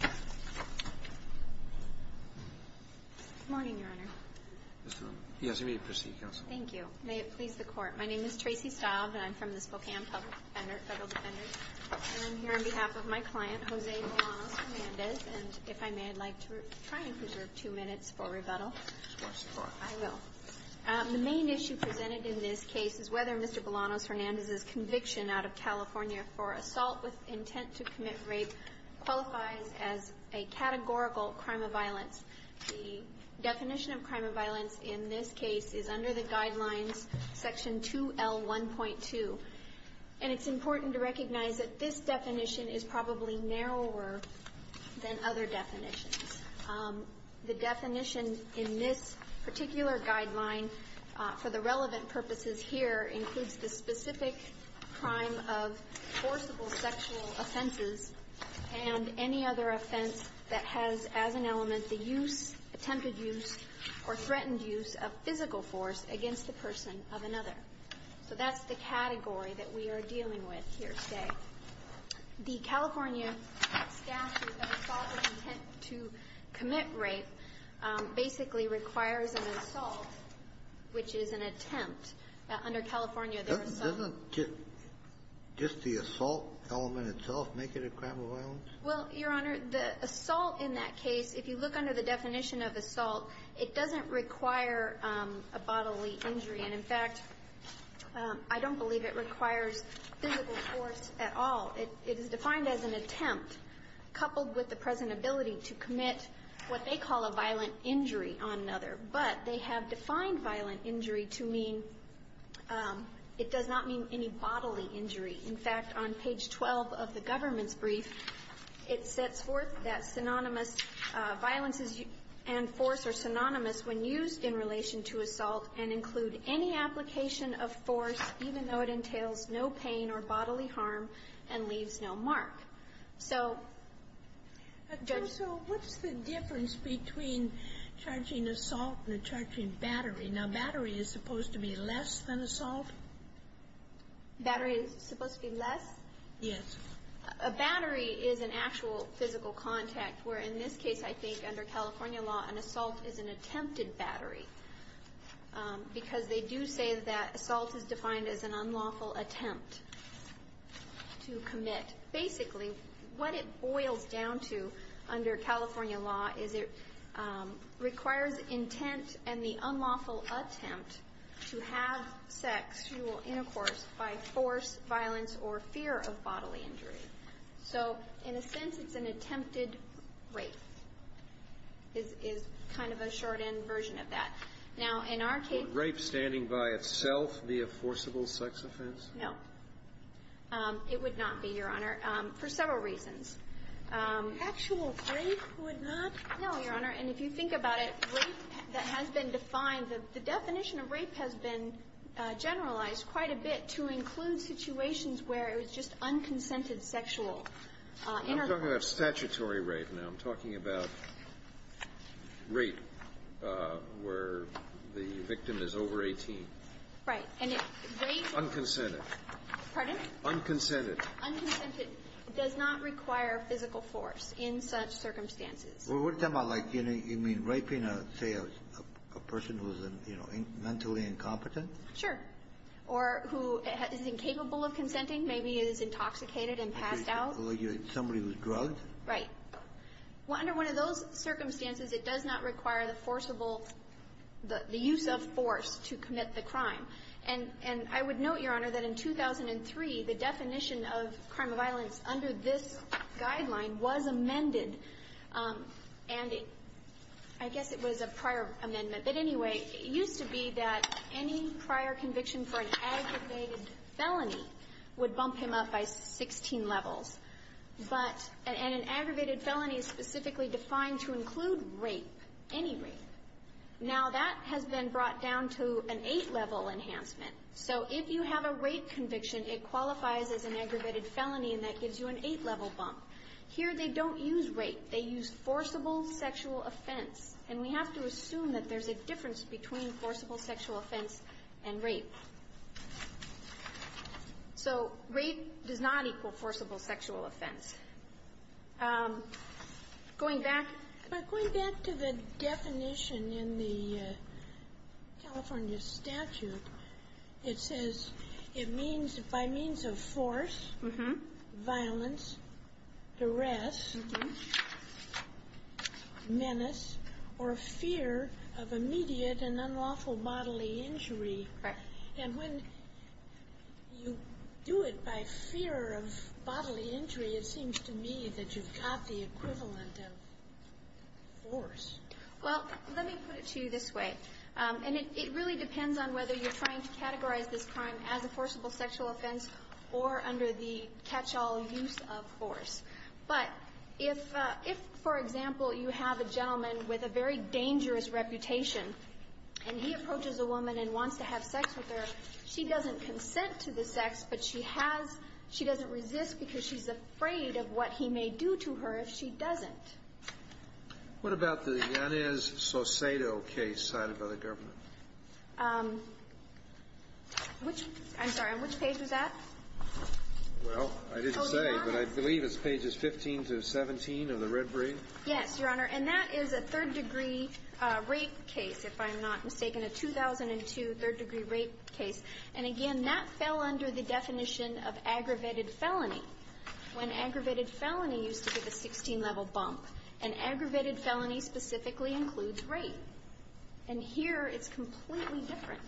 Good morning, Your Honor. Mr. Bolanos-Hernandez. Yes, you may proceed, Counsel. Thank you. May it please the Court. My name is Tracy Stile, and I'm from the Spokane Public Defender, Federal Defender, and I'm here on behalf of my client, Jose Bolanos-Hernandez, and if I may, I'd like to try and preserve two minutes for rebuttal. Of course, of course. I will. The main issue presented in this case is whether Mr. Bolanos-Hernandez's conviction out of California for assault with intent to commit rape qualifies as a categorical crime of violence. The definition of crime of violence in this case is under the guidelines, Section 2L1.2, and it's important to recognize that this definition is probably narrower than other definitions. The definition in this particular guideline, for the relevant purposes here, includes the specific crime of forcible sexual offenses and any other offense that has as an element the use, attempted use, or threatened use of physical force against the person of another. So that's the category that we are dealing with here today. The California statute of assault with intent to commit rape basically requires an assault, which is an attempt. Under California, there are some... Doesn't just the assault element itself make it a crime of violence? Well, Your Honor, the assault in that case, if you look under the definition of assault, it doesn't require a bodily injury. And, in fact, I don't believe it requires physical force at all. It is defined as an attempt, coupled with the present ability to commit what they call a violent injury on another. But they have defined violent injury to mean it does not mean any bodily injury. In fact, on page 12 of the government's brief, it sets forth that violence and force are synonymous when used in relation to assault and include any application of force, even though it entails no pain or bodily harm and leaves no mark. So, Judge? So what's the difference between charging assault and charging battery? Now, battery is supposed to be less than assault? Battery is supposed to be less? Yes. A battery is an actual physical contact where, in this case, I think, under California law, an assault is an attempted battery because they do say that assault is defined as an unlawful attempt to commit. Basically, what it boils down to under California law is it requires intent and the unlawful attempt to have sex, sexual intercourse, by force, violence, or fear of bodily injury. So, in a sense, it's an attempted rape, is kind of a short-end version of that. Now, in our case ---- Would rape standing by itself be a forcible sex offense? No. It would not be, Your Honor, for several reasons. Actual rape would not? No, Your Honor. And if you think about it, rape that has been defined, the definition of rape has been generalized quite a bit to include situations where it was just unconsented sexual intercourse. I'm talking about statutory rape now. I'm talking about rape where the victim is over 18. Right. And rape ---- Unconsented. Pardon? Unconsented. Unconsented. It does not require physical force in such circumstances. Well, what are you talking about? Like, you know, you mean raping, say, a person who is, you know, mentally incompetent? Sure. Or who is incapable of consenting, maybe is intoxicated and passed out. Somebody who's drugged? Right. Well, under one of those circumstances, it does not require the forcible ---- the use of force to commit the crime. And I would note, Your Honor, that in 2003, the definition of crime of violence under this guideline was amended. And I guess it was a prior amendment. But anyway, it used to be that any prior conviction for an aggravated felony would bump him up by 16 levels. But an aggravated felony is specifically defined to include rape, any rape. Now, that has been brought down to an 8-level enhancement. So if you have a rape conviction, it qualifies as an aggravated felony, and that gives you an 8-level bump. Here, they don't use rape. They use forcible sexual offense. And we have to assume that there's a difference between forcible sexual offense and rape. So rape does not equal forcible sexual offense. Going back ---- But going back to the definition in the California statute, it says it means by means of force, violence, duress, menace, or fear of immediate and unlawful bodily injury. Right. And when you do it by fear of bodily injury, it seems to me that you've got the equivalent of force. Well, let me put it to you this way. And it really depends on whether you're trying to categorize this crime as a forcible sexual offense or under the catch-all use of force. But if, for example, you have a gentleman with a very dangerous reputation, and he approaches a woman and wants to have sex with her, she doesn't consent to the sex, but she has ---- she doesn't resist because she's afraid of what he may do to her if she doesn't. What about the Yanez Saucedo case cited by the government? Which ---- I'm sorry. Which page was that? Well, I didn't say, but I believe it's pages 15 to 17 of the Red Brief. Yes, Your Honor. And that is a third-degree rape case, if I'm not mistaken. A 2002 third-degree rape case. And again, that fell under the definition of aggravated felony. When aggravated felony used to be the 16-level bump. An aggravated felony specifically includes rape. And here it's completely different.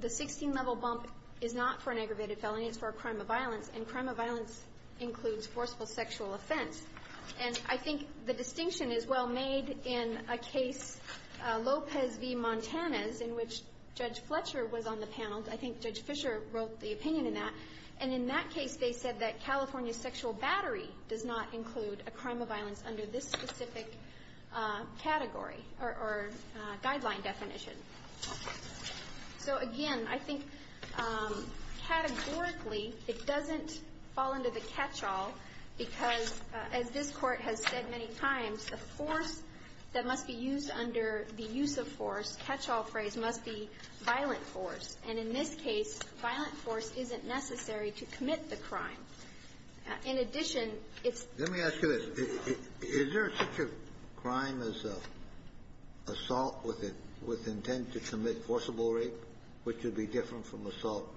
The 16-level bump is not for an aggravated felony. It's for a crime of violence. And crime of violence includes forceful sexual offense. And I think the distinction is well made in a case, Lopez v. Montanez, in which Judge Fletcher was on the panel. I think Judge Fischer wrote the opinion in that. And in that case, they said that California sexual battery does not include a crime of violence under this specific category or guideline definition. So again, I think categorically, it doesn't fall under the catch-all because, as this Court has said many times, the force that must be used under the use of force, catch-all phrase, must be violent force. And in this case, violent force isn't necessary to commit the crime. In addition, it's – Assault with intent to commit forcible rape, which would be different from assault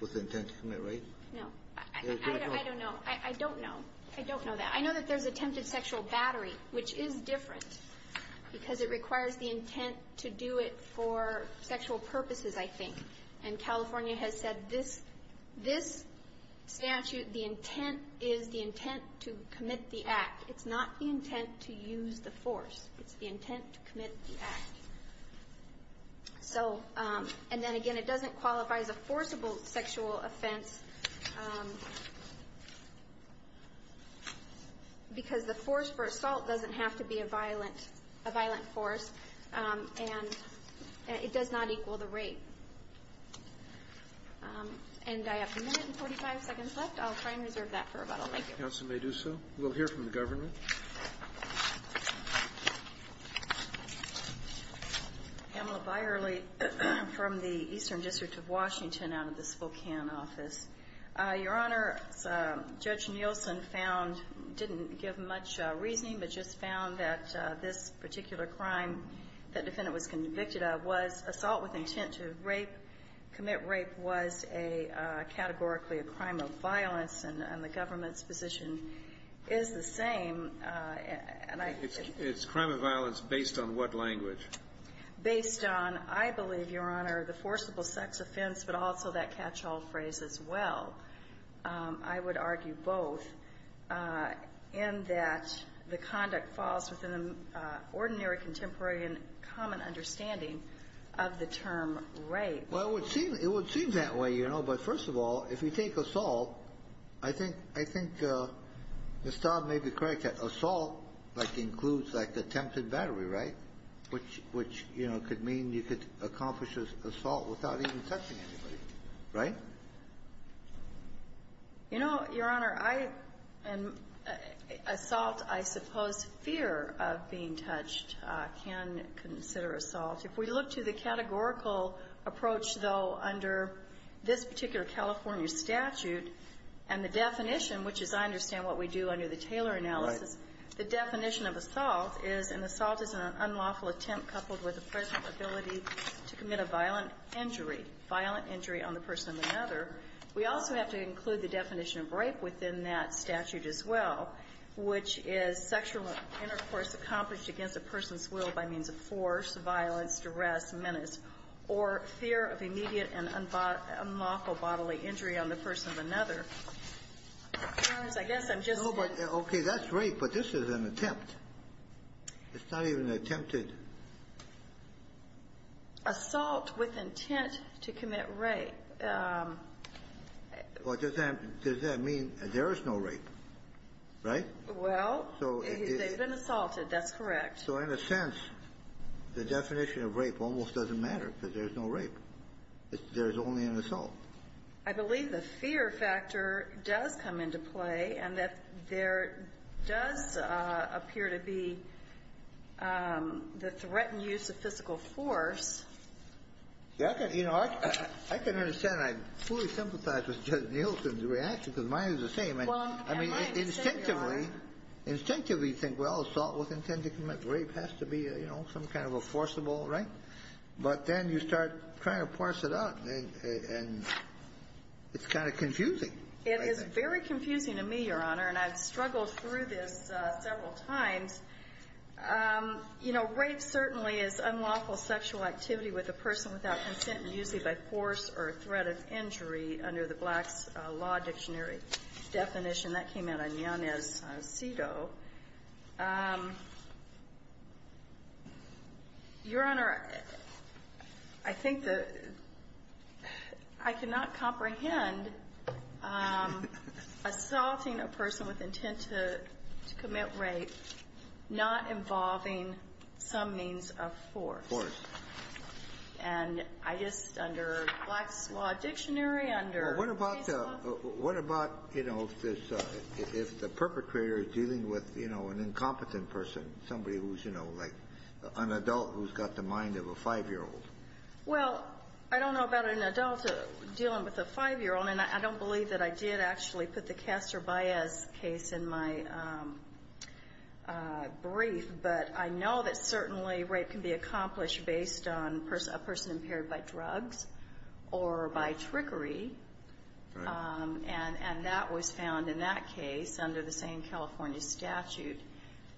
with intent to commit rape? No. I don't know. I don't know. I don't know that. I know that there's attempted sexual battery, which is different because it requires the intent to do it for sexual purposes, I think. And California has said this statute, the intent is the intent to commit the act. It's not the intent to use the force. It's the intent to commit the act. So – and then again, it doesn't qualify as a forcible sexual offense because the force for assault doesn't have to be a violent – a violent force, and it does not equal the rape. And I have a minute and 45 seconds left. I'll try and reserve that for rebuttal. Thank you. Counsel may do so. We'll hear from the government. Pamela Byerly from the Eastern District of Washington out of the Spokane office. Your Honor, Judge Nielsen found – didn't give much reasoning, but just found that this particular crime that defendant was convicted of was assault with intent to rape, commit rape was a – categorically a crime of violence, and the government's decision is the same. And I – It's crime of violence based on what language? Based on, I believe, Your Honor, the forcible sex offense, but also that catch-all phrase as well. I would argue both in that the conduct falls within the ordinary contemporary and common understanding of the term rape. Well, it would seem – it would seem that way, you know. But first of all, if you take assault, I think – I think Ms. Todd may be correct that assault, like, includes, like, attempted battery, right? Which, you know, could mean you could accomplish assault without even touching anybody, right? You know, Your Honor, I – assault, I suppose fear of being touched can consider assault. If we look to the categorical approach, though, under this particular California statute, and the definition, which is I understand what we do under the Taylor analysis, the definition of assault is an assault is an unlawful attempt coupled with the present ability to commit a violent injury, violent injury on the person or another. We also have to include the definition of rape within that statute as well, which is sexual intercourse accomplished against a person's will by means of force, violence, duress, menace, or fear of immediate and unlawful bodily injury on the person or another. Your Honor, I guess I'm just – Okay. That's rape, but this is an attempt. It's not even attempted. Assault with intent to commit rape. Well, does that – does that mean there is no rape, right? Well, they've been assaulted. That's correct. So in a sense, the definition of rape almost doesn't matter because there's no rape. There's only an assault. I believe the fear factor does come into play and that there does appear to be the threatened use of physical force. I can understand. I fully sympathize with Justice Nielsen's reaction because mine is the same. I mean, instinctively, instinctively you think, well, assault with intent to commit rape has to be, you know, some kind of a forcible, right? But then you start trying to parse it out and it's kind of confusing. It is very confusing to me, Your Honor, and I've struggled through this several times. You know, rape certainly is unlawful sexual activity with a person without consent usually by force or threat of injury under the Black's Law Dictionary definition. That came out on Yanez's CEDAW. Your Honor, I think that I cannot comprehend assaulting a person with intent to commit rape not involving some means of force. Of course. And I just, under Black's Law Dictionary, under CEDAW. Well, what about, you know, if the perpetrator is dealing with, you know, an incompetent person, somebody who's, you know, like an adult who's got the mind of a 5-year-old? Well, I don't know about an adult dealing with a 5-year-old, and I don't believe that I did actually put the Castor Baez case in my brief, but I know that certainly rape can be accomplished based on a person impaired by drugs or by trickery. Right. And that was found in that case under the same California statute.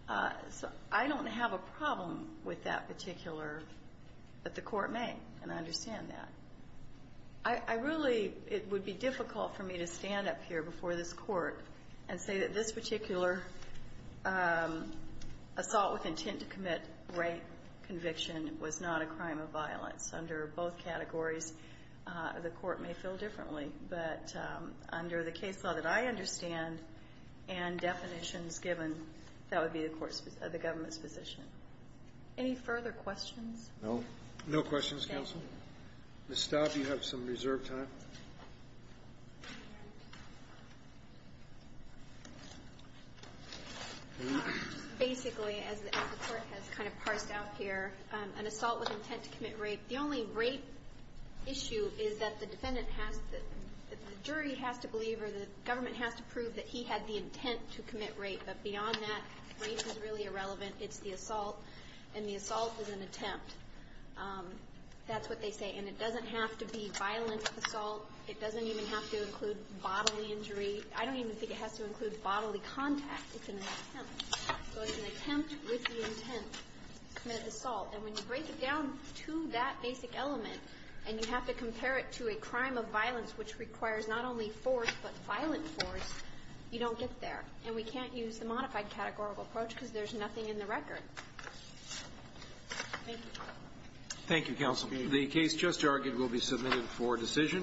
So I don't have a problem with that particular, but the Court may, and I understand that. I really, it would be difficult for me to stand up here before this Court and say that this particular assault with intent to commit rape conviction was not a crime of violence. Under both categories, the Court may feel differently. But under the case law that I understand and definitions given, that would be the Court's, the government's position. Any further questions? No. No questions, counsel. Thank you. Ms. Staub, you have some reserved time. Basically, as the Court has kind of parsed out here, an assault with intent to commit rape, the only rape issue is that the defendant has to, the jury has to believe or the government has to prove that he had the intent to commit rape. But beyond that, rape is really irrelevant. It's the assault, and the assault is an attempt. That's what they say. And it doesn't have to be violent assault. It doesn't even have to include bodily injury. I don't even think it has to include bodily contact. It's an attempt. So it's an attempt with the intent to commit the assault. And when you break it down to that basic element and you have to compare it to a crime of violence which requires not only force but violent force, you don't get there. And we can't use the modified categorical approach because there's nothing in the record. Thank you. Thank you, counsel. The case just argued will be submitted for decision.